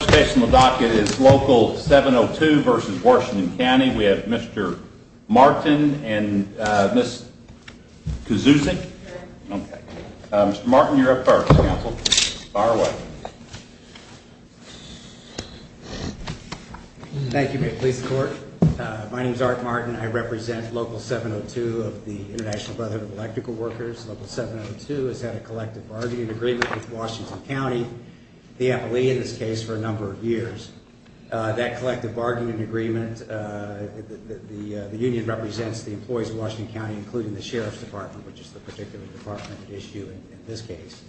The first case on the docket is Local 702 v. Washington County. We have Mr. Martin and Ms. Kuzuzic. Mr. Martin, you're up first, counsel. Fire away. Thank you, Mayor of the Police Department. My name is Art Martin. I represent Local 702 of the International Brotherhood of Electrical Workers. Local 702 has had a collective bargaining agreement with Washington County, the FLE in this case, for a number of years. That collective bargaining agreement, the union represents the employees of Washington County, including the Sheriff's Department, which is the particular department at issue in this case.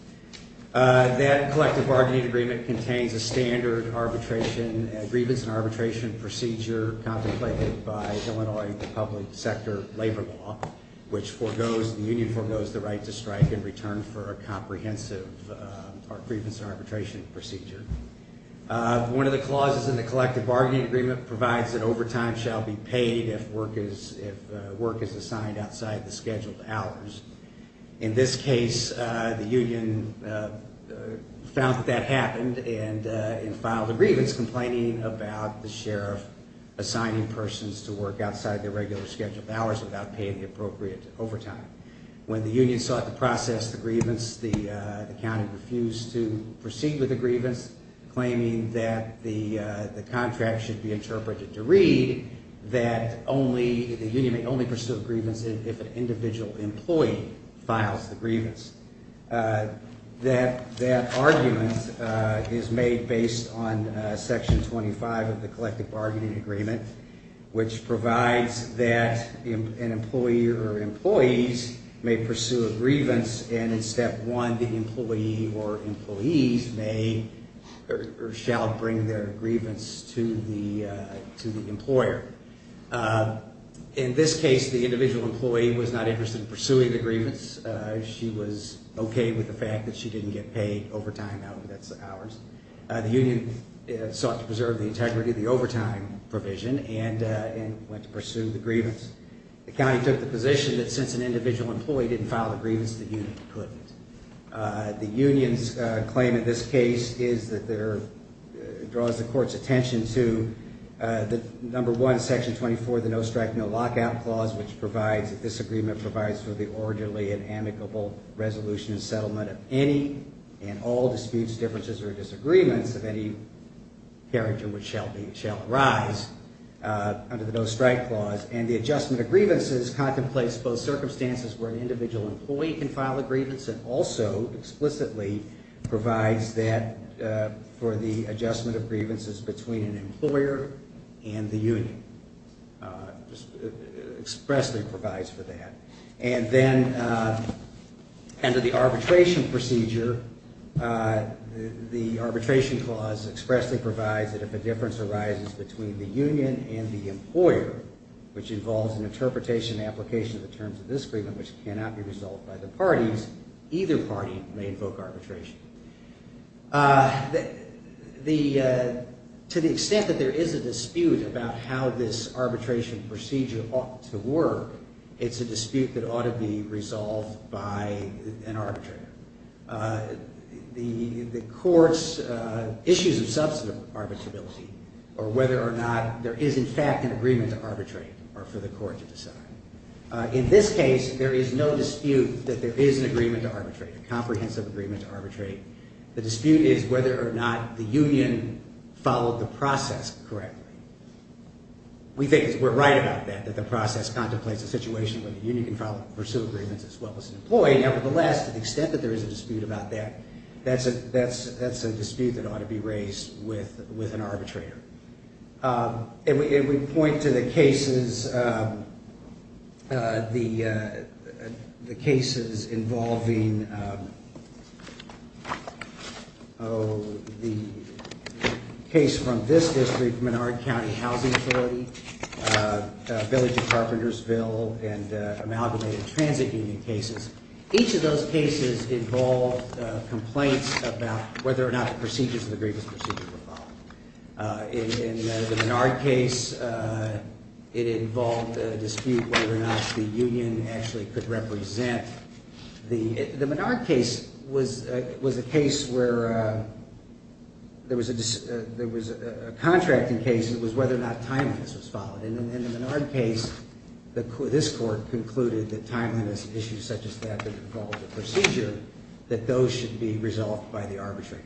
That collective bargaining agreement contains a standard arbitration, a grievance and arbitration procedure contemplated by Illinois public sector labor law, which foregoes, the union foregoes the right to strike in return for a comprehensive grievance and arbitration procedure. One of the clauses in the collective bargaining agreement provides that overtime shall be paid if work is assigned outside the scheduled hours. In this case, the union found that that happened and filed a grievance complaining about the sheriff assigning persons to work outside their regular scheduled hours without paying the appropriate overtime. When the union sought to process the grievance, the county refused to proceed with the grievance, claiming that the contract should be interpreted to read that the union may only pursue a grievance if an individual employee files the grievance. That argument is made based on section 25 of the collective bargaining agreement, which provides that an employee or employees may pursue a grievance and in step one, the employee or employees may or shall bring their grievance to the to the employer. In this case, the individual employee was not interested in pursuing the grievance. She was OK with the fact that she didn't get paid overtime hours. The union sought to preserve the integrity of the overtime provision and went to pursue the grievance. The county took the position that since an individual employee didn't file a grievance, the union couldn't. The union's claim in this case is that there draws the court's attention to the number one, section 24, the no strike, no lockout clause, which provides that this agreement provides for the orderly and amicable resolution and settlement of any and all disputes, differences or disagreements of any carriage in which shall arise under the no strike clause. And the adjustment of grievances contemplates both circumstances where an individual employee can file a grievance and also explicitly provides that for the adjustment of grievances between an employer and the union. Expressly provides for that. And then under the arbitration procedure, the arbitration clause expressly provides that if a difference arises between the union and the employer, which involves an interpretation and application of the terms of this agreement, which cannot be resolved by the parties, either party may invoke arbitration. To the extent that there is a dispute about how this arbitration procedure ought to work, it's a dispute that ought to be resolved by an arbitrator. The court's issues of substantive arbitrability or whether or not there is in fact an agreement to arbitrate are for the court to decide. In this case, there is no dispute that there is an agreement to arbitrate, a comprehensive agreement to arbitrate. The dispute is whether or not the union followed the process correctly. We think we're right about that, that the process contemplates a situation where the union can pursue agreements as well as an employee. Nevertheless, to the extent that there is a dispute about that, that's a dispute that ought to be raised with an arbitrator. And we point to the cases involving the case from this district, Menard County Housing Authority, Village of Carpentersville, and amalgamated transit union cases. Each of those cases involved complaints about whether or not the procedures of the grievance procedure were followed. In the Menard case, it involved a dispute whether or not the union actually could represent the... The Menard case was a case where there was a contracting case, it was whether or not timeliness was followed. And in the Menard case, this court concluded that timeliness issues such as that that involved the procedure, that those should be resolved by the arbitrator.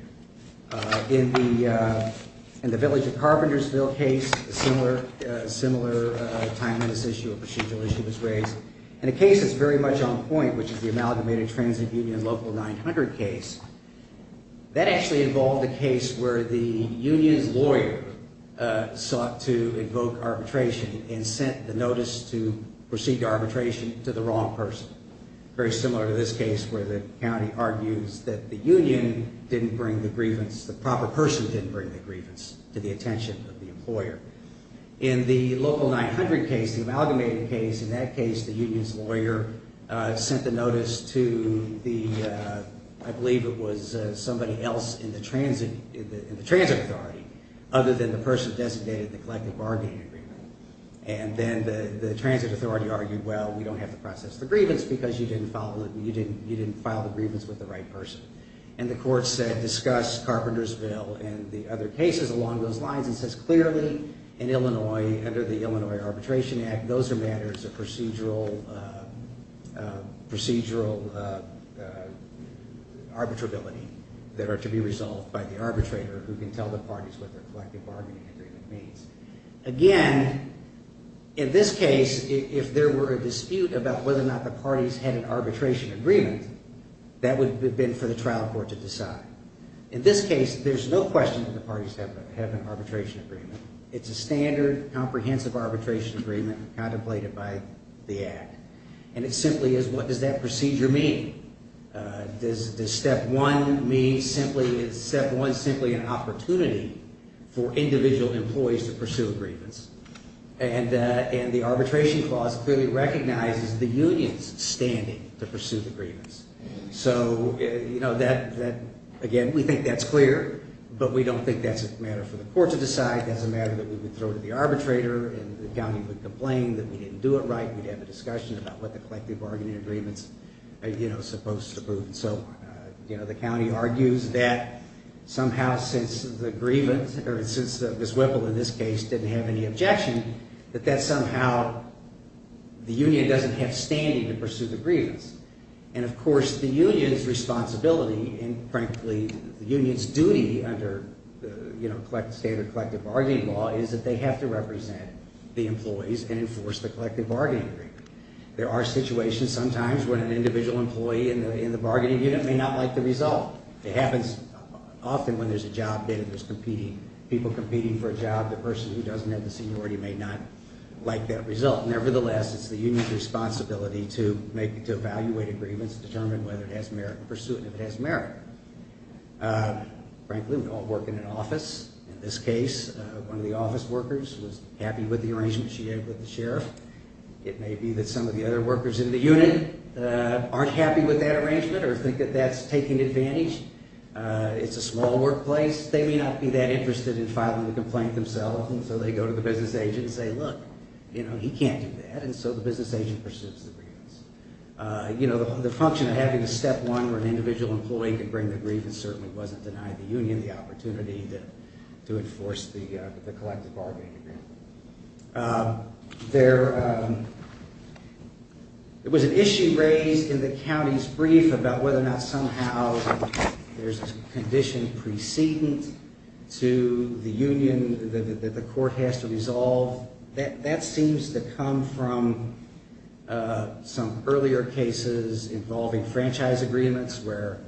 In the Village of Carpentersville case, a similar timeliness issue, a procedural issue was raised. In a case that's very much on point, which is the amalgamated transit union local 900 case, that actually involved a case where the union's lawyer sought to evoke arbitration and sent the notice to proceed to arbitration to the wrong person. Very similar to this case where the county argues that the union didn't bring the grievance, the proper person didn't bring the grievance to the attention of the employer. In the local 900 case, the amalgamated case, in that case the union's lawyer sent the notice to the... I believe it was somebody else in the transit authority other than the person designated in the collective bargaining agreement. And then the transit authority argued, well, we don't have to process the grievance because you didn't file the grievance with the right person. And the court said, discuss Carpentersville and the other cases along those lines and says, clearly in Illinois, under the Illinois Arbitration Act, those are matters of procedural arbitrability that are to be resolved by the arbitrator who can tell the parties what their collective bargaining agreement means. Again, in this case, if there were a dispute about whether or not the parties had an arbitration agreement, that would have been for the trial court to decide. In this case, there's no question that the parties have an arbitration agreement. It's a standard, comprehensive arbitration agreement contemplated by the Act. And it simply is, what does that procedure mean? Does step one mean simply, is step one simply an opportunity for individual employees to pursue a grievance? And the arbitration clause clearly recognizes the union's standing to pursue the grievance. So, you know, again, we think that's clear, but we don't think that's a matter for the court to decide. That's a matter that we would throw to the arbitrator and the county would complain that we didn't do it right. We'd have a discussion about what the collective bargaining agreements are, you know, supposed to prove. So, you know, the county argues that somehow since the grievance, or since Ms. Whipple, in this case, didn't have any objection, that that somehow the union doesn't have standing to pursue the grievance. And, of course, the union's responsibility and, frankly, the union's duty under, you know, the standard collective bargaining law is that they have to represent the employees and enforce the collective bargaining agreement. There are situations sometimes when an individual employee in the bargaining unit may not like the result. It happens often when there's a job bid and there's competing, people competing for a job. The person who doesn't have the seniority may not like that result. Nevertheless, it's the union's responsibility to evaluate a grievance, determine whether it has merit, and pursue it if it has merit. Frankly, we all work in an office. In this case, one of the office workers was happy with the arrangement she had with the sheriff. It may be that some of the other workers in the unit aren't happy with that arrangement or think that that's taking advantage. It's a small workplace. They may not be that interested in filing the complaint themselves, so they go to the business agent and say, look, you know, he can't do that, and so the business agent pursues the grievance. You know, the function of having a step one where an individual employee can bring the grievance certainly wasn't denying the union the opportunity to enforce the collective bargaining agreement. There was an issue raised in the county's brief about whether or not somehow there's a condition precedent to the union that the court has to resolve and that seems to come from some earlier cases involving franchise agreements where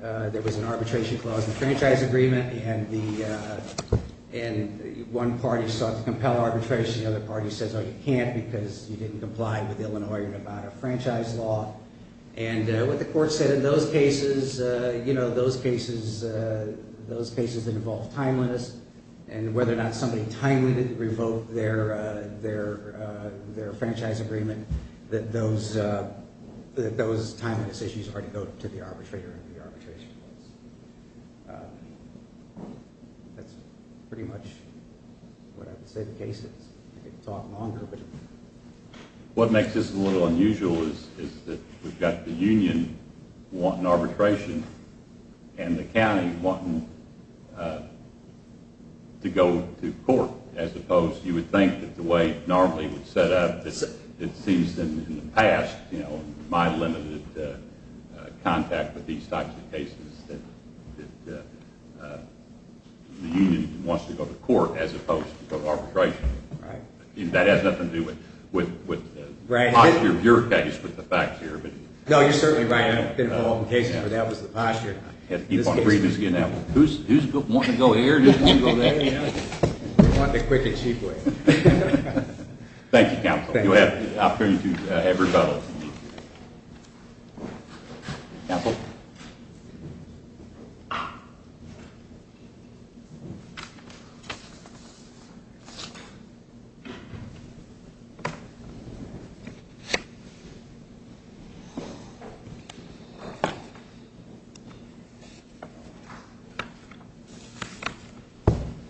there was an arbitration clause in the franchise agreement and one party sought to compel arbitration and the other party said, oh, you can't because you didn't comply with Illinois and Nevada franchise law. And what the court said in those cases, you know, those cases involve timeliness and whether or not somebody timely revoked their arbitration clause, their franchise agreement, that those timeliness issues are to go to the arbitrator and the arbitration clause. That's pretty much what I would say the case is. What makes this a little unusual is that we've got the union wanting arbitration and the county wanting to go to court, as opposed you would think that the way it normally would set up, it seems in the past, you know, my limited contact with these types of cases that the union wants to go to court as opposed to go to arbitration. And that has nothing to do with the posture of your case with the facts here. No, you're certainly right. I've been involved in cases where that was the posture. Who's wanting to go here, who's wanting to go there? Thank you, counsel. You'll have the opportunity to have rebuttal. Counsel?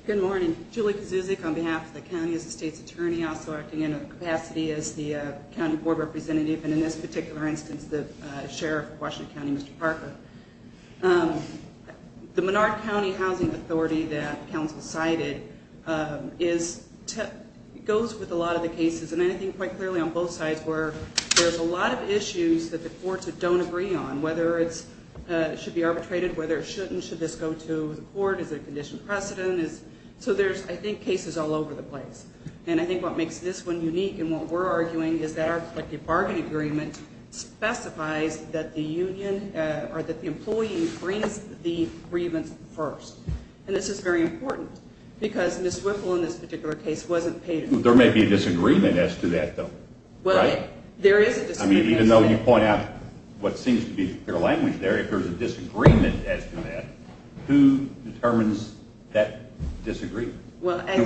Good morning. Julie Kuzuzic on behalf of the county as the state's attorney, also acting in capacity as the county board representative, and in this particular instance, the sheriff of Washington County, Mr. Parker. The Menard County Housing Authority that counsel cited goes with a lot of the cases, and I think quite clearly on both sides, where there's a lot of issues that the courts don't agree on, whether it should be arbitrated, whether it shouldn't, should this go to the court, is there a condition precedent? So there's, I think, cases all over the place, and I think what makes this one unique and what we're arguing is that our collective bargaining agreement specifies that the union or that the employee brings the grievance first. And this is very important, because Ms. Whipple in this particular case wasn't paid. There may be a disagreement as to that, though, right? Well, there is a disagreement. I mean, even though you point out what seems to be clear language there, if there's a disagreement as to that, who determines that disagreement? Well, I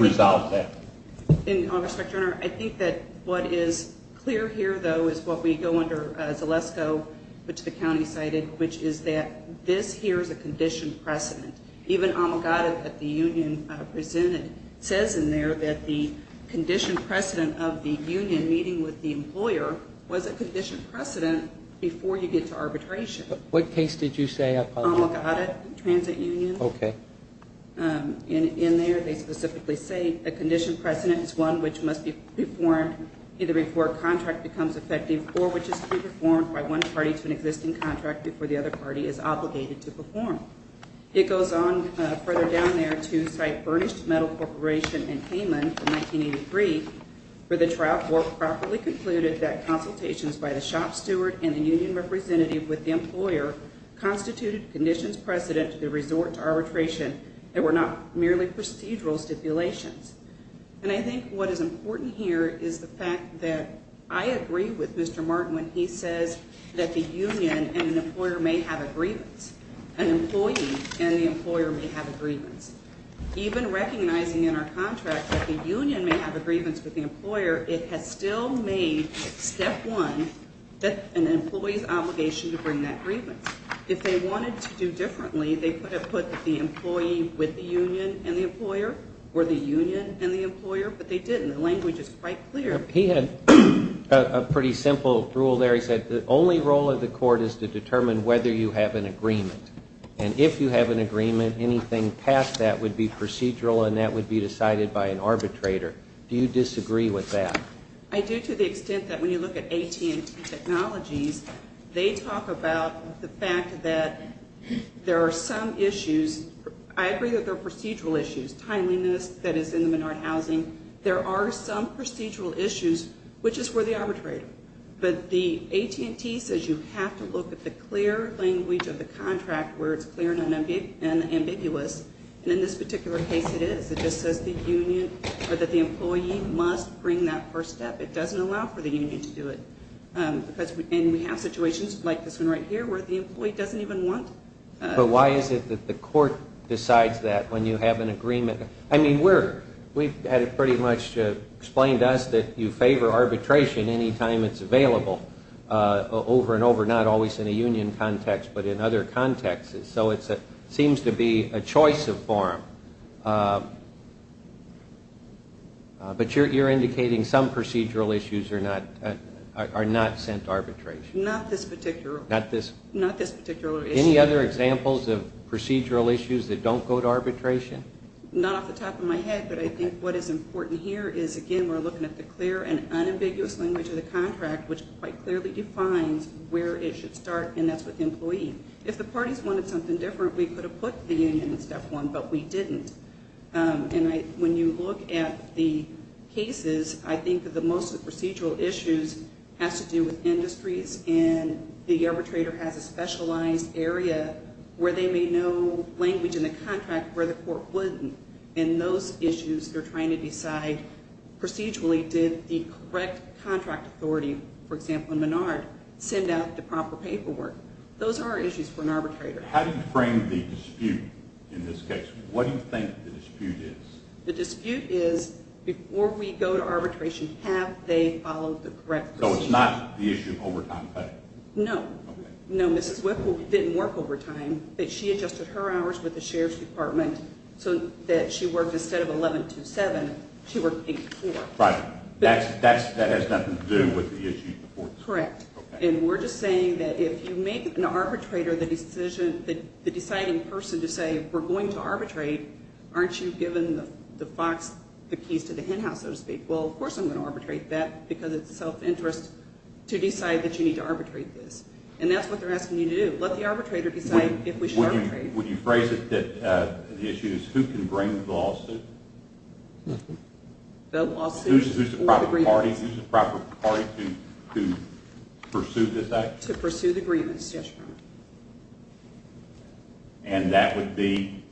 think that what is clear here, though, is what we go under Zalesko, which the county cited, which is that this here is a condition precedent. Even Omigadda that the union presented says in there that the condition precedent of the union meeting with the employer was a condition precedent before you get to arbitration. What case did you say, I apologize? Omigadda Transit Union. In there, they specifically say a condition precedent is one which must be performed either before a contract becomes effective or which is to be performed by one party to an existing contract before the other party is obligated to perform. It goes on further down there to cite Burnished Metal Corporation and Hayman from 1983, where the trial board properly concluded that consultations by the shop steward and the union representative with the employer constituted conditions precedent to the resort to arbitration that were not merely procedural stipulations. And I think what is important here is the fact that I agree with Mr. Martin when he says that the union and an employer may have a grievance. An employee and the employer may have a grievance. But the employer, it has still made step one an employee's obligation to bring that grievance. If they wanted to do differently, they could have put the employee with the union and the employer or the union and the employer. But they didn't. The language is quite clear. He had a pretty simple rule there. He said the only role of the court is to determine whether you have an agreement. And if you have an agreement, anything past that would be procedural and that would be decided by an arbitrator. Do you disagree with that? I do to the extent that when you look at AT&T Technologies, they talk about the fact that there are some issues. I agree that there are procedural issues, timeliness that is in the Menard housing. There are some procedural issues, which is where the arbitrator. But the AT&T says you have to look at the clear language of the contract where it's clear and ambiguous. And in this particular case, it is. It just says the union or that the employee must bring that first step. It doesn't allow for the union to do it. And we have situations like this one right here where the employee doesn't even want. But why is it that the court decides that when you have an agreement? I mean, we've had it pretty much explained to us that you favor arbitration any time it's available over and over, not always in a union context, but in other contexts. So it seems to be a choice of form. But you're indicating some procedural issues are not sent to arbitration. Not this particular issue. Any other examples of procedural issues that don't go to arbitration? Not off the top of my head, but I think what is important here is, again, we're looking at the clear and unambiguous language of the contract, which quite clearly defines where it should start, and that's with the employee. If the parties wanted something different, we could have put the union in step one, but we didn't. And when you look at the cases, I think that most of the procedural issues has to do with industries, and the arbitrator has a specialized area where they may know language in the contract where the court wouldn't. And those issues, they're trying to decide procedurally, did the correct contract authority, for example, in Menard, send out the proper paperwork? Those are issues for an arbitrator. How do you frame the dispute in this case? What do you think the dispute is? The dispute is before we go to arbitration, have they followed the correct procedure? So it's not the issue of overtime pay? No. No, Mrs. Whipple didn't work overtime, but she adjusted her hours with the sheriff's department so that she worked instead of 11-2-7, she worked 8-4. Right. That has nothing to do with the issue before? Correct. And we're just saying that if you make an arbitrator the deciding person to say we're going to arbitrate, aren't you giving the fox the keys to the hen house, so to speak? Well, of course I'm going to arbitrate that, because it's self-interest to decide that you need to arbitrate this. And that's what they're asking you to do, let the arbitrator decide if we should arbitrate. Would you phrase it that the issue is who can bring the lawsuit? Who's the proper party to pursue this action? To pursue the grievance, yes. And that wouldn't be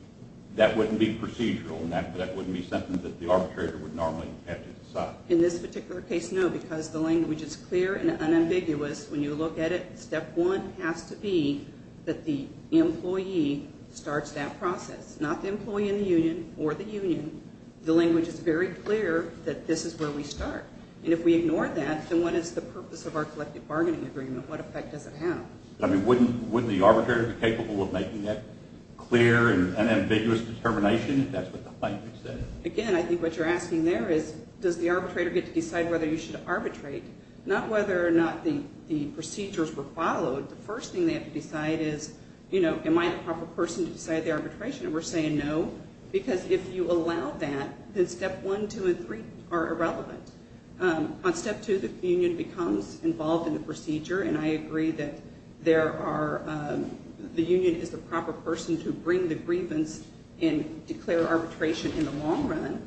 procedural, that wouldn't be something that the arbitrator would normally have to decide? In this particular case, no, because the language is clear and unambiguous. When you look at it, step one has to be that the employee starts that process. Not the employee in the union or the union. The language is very clear that this is where we start. And if we ignore that, then what is the purpose of our collective bargaining agreement? What effect does it have? I mean, wouldn't the arbitrator be capable of making that clear and ambiguous determination if that's what the language says? Again, I think what you're asking there is, does the arbitrator get to decide whether you should arbitrate? Not whether or not the procedures were followed. The first thing they have to decide is, you know, am I the proper person to decide the arbitration? And we're saying no, because if you allow that, then step one, two, and three are irrelevant. On step two, the union becomes involved in the procedure. And I agree that the union is the proper person to bring the grievance and declare arbitration in the long run.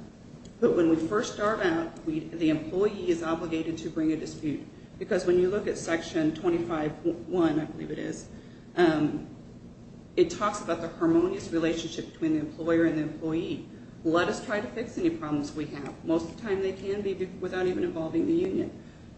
But when we first start out, the employee is obligated to bring a dispute. Because when you look at section 25.1, I believe it is, it talks about the harmonious relationship between the employer and the employee. Let us try to fix any problems we have. Most of the time they can be without even involving the union.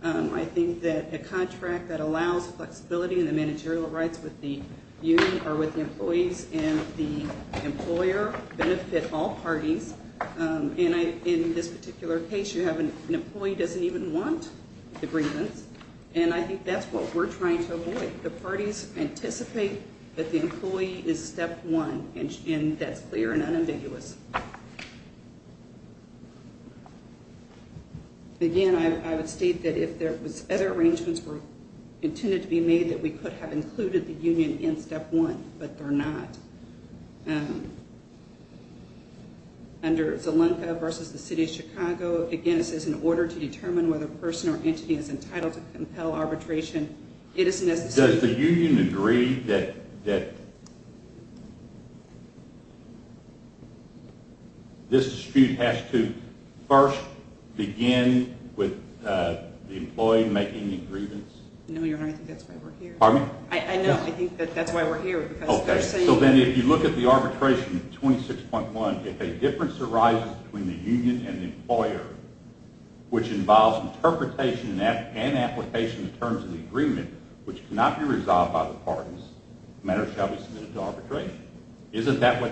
I think that a contract that allows flexibility in the managerial rights with the union or with the employees and the employer benefit all parties. And in this particular case, you have an employee doesn't even want the grievance. And I think that's what we're trying to avoid. The parties anticipate that the employee is step one. And that's clear and unambiguous. Again, I would state that if there was other arrangements intended to be made, that we could have included the union in step one. But they're not. Under Zalunka versus the City of Chicago, again, it says, in order to determine whether a person or entity is entitled to compel arbitration, it is necessary. This dispute has to first begin with the employee making the grievance? No, Your Honor. I think that's why we're here. I know. I think that's why we're here. Okay. So then if you look at the arbitration in 26.1, if a difference arises between the union and the employer, which involves interpretation and application in terms of the agreement, which cannot be resolved by the parties, the matter shall be submitted to arbitration. Isn't that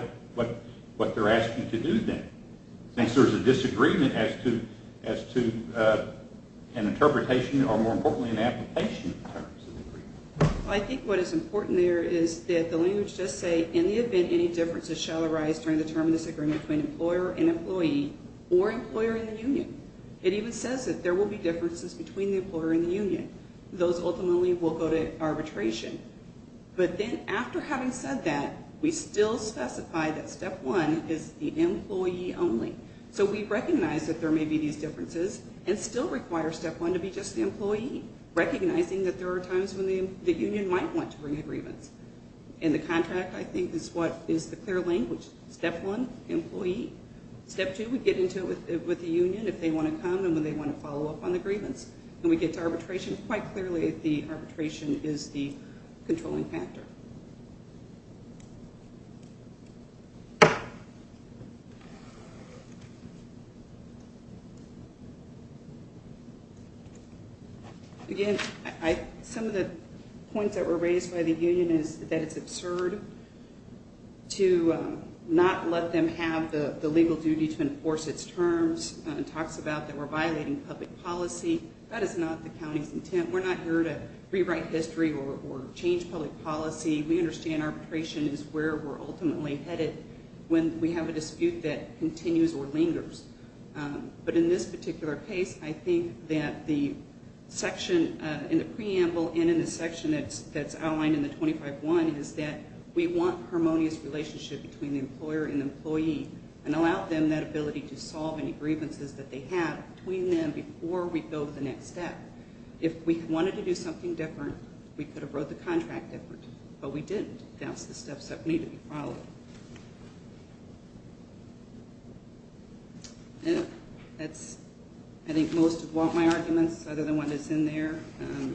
what they're asking to do then? I think what is important there is that the language does say, in the event any differences shall arise during the term of this agreement between employer and employee or employer and the union. It even says that there will be differences between the employer and the union. Those ultimately will go to arbitration. But then after having said that, we still specify that step one is the employee only. So we recognize that there may be these differences and still require step one to be just the employee, recognizing that there are times when the union might want to bring a grievance. And the contract, I think, is what is the clear language. Step one, employee. Step two, we get into it with the union if they want to come and they want to follow up on the grievance. And we get to arbitration quite clearly if the arbitration is the controlling factor. Again, some of the points that were raised by the union is that it's absurd to not let them have the legal duty to enforce its terms. It talks about that we're violating public policy. That is not the county's intent. We're not here to rewrite history or change public policy. We understand arbitration is where we're ultimately headed when we have a dispute that continues or lingers. But in this particular case, I think that the section in the preamble and in the section that's outlined in the 25-1 is that we want harmonious relationship between the employer and employee and allow them that ability to solve any grievances that they have between them before we go to the next step. If we wanted to do something different, we could have wrote the contract different, but we didn't. That's the steps that need to be followed. That's, I think, most of my arguments other than what is in there.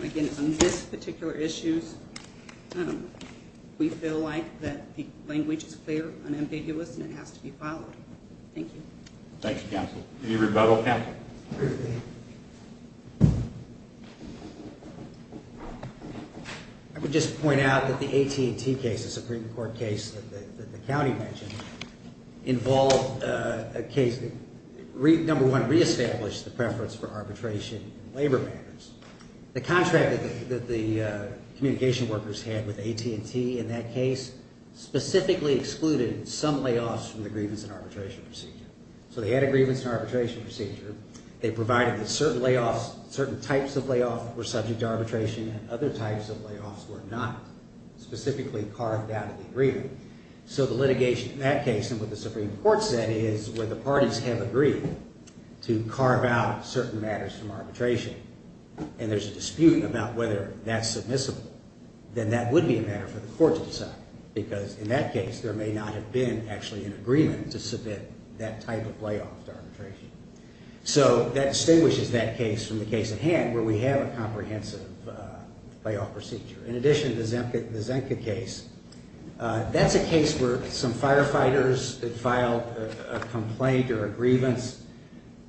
Again, on this particular issue, we feel like that the language is clear and ambiguous and it has to be followed. Thank you. I would just point out that the AT&T case, the Supreme Court case that the county mentioned, number one, reestablished the preference for arbitration in labor matters. The contract that the communication workers had with AT&T in that case specifically excluded some layoffs from the grievance and arbitration procedure. So they had a grievance and arbitration procedure. They provided that certain layoffs, certain types of layoffs were subject to arbitration and other types of layoffs were not specifically carved out of the agreement. So the litigation in that case and what the Supreme Court said is where the parties have agreed to carve out certain matters from arbitration and there's a dispute about whether that's submissible, then that would be a matter for the court to decide. Because in that case, there may not have been actually an agreement to submit that type of layoff to arbitration. So that distinguishes that case from the case at hand where we have a comprehensive layoff procedure. In addition, the Zenka case, that's a case where some firefighters filed a complaint or a grievance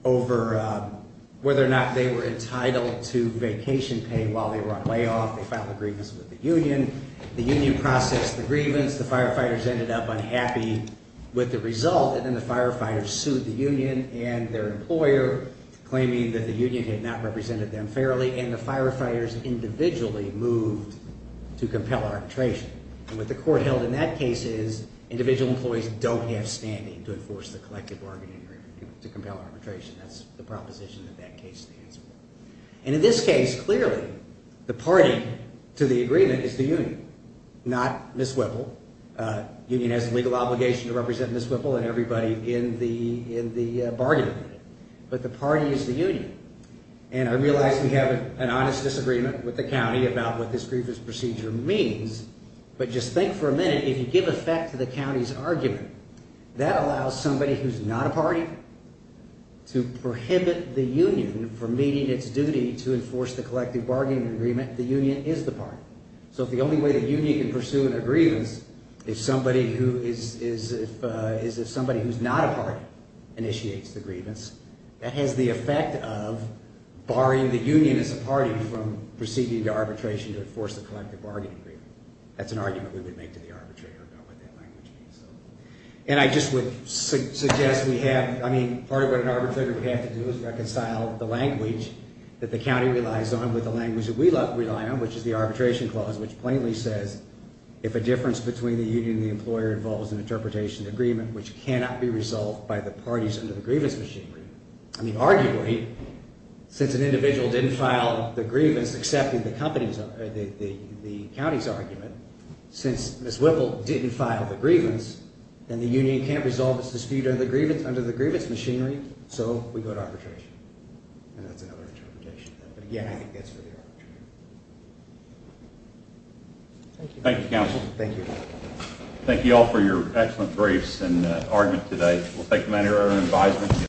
over whether or not they were entitled to vacation pay while they were on layoff. They filed a grievance with the union. The union processed the grievance. The firefighters ended up unhappy with the result. And then the firefighters sued the union and their employer claiming that the union had not represented them fairly. And the firefighters individually moved to compel arbitration. And what the court held in that case is individual employees don't have standing to enforce the collective bargaining agreement to compel arbitration. That's the proposition that that case stands for. And in this case, clearly, the party to the agreement is the union, not Ms. Whipple. The union has a legal obligation to represent Ms. Whipple and everybody in the bargaining. But the party is the union. And I realize we have an honest disagreement with the county about what this grievance procedure means. But just think for a minute, if you give effect to the county's argument, that allows somebody who's not a party to prohibit the union from meeting its duty to enforce the collective bargaining agreement. The union is the party. So if the only way the union can pursue an agreement is if somebody who is not a party initiates the grievance, that has the effect of barring the union as a party from proceeding to arbitration to enforce the collective bargaining agreement. That's an argument we would make to the arbitrator about what that language means. And I just would suggest we have, I mean, part of what an arbitrator would have to do is reconcile the language that the county relies on with the language that we rely on, which is the arbitration clause, which plainly says if a difference between the union and the employer involves an interpretation agreement which cannot be resolved by the parties under the grievance machinery. I mean, arguably, since an individual didn't file the grievance except in the county's argument, since Ms. Whipple didn't file the grievance, then the union can't resolve its dispute under the grievance machinery, so we go to arbitration. And that's another interpretation. But again, I think that's for the arbitration. Thank you, counsel. Thank you. Thank you all for your excellent briefs and argument today.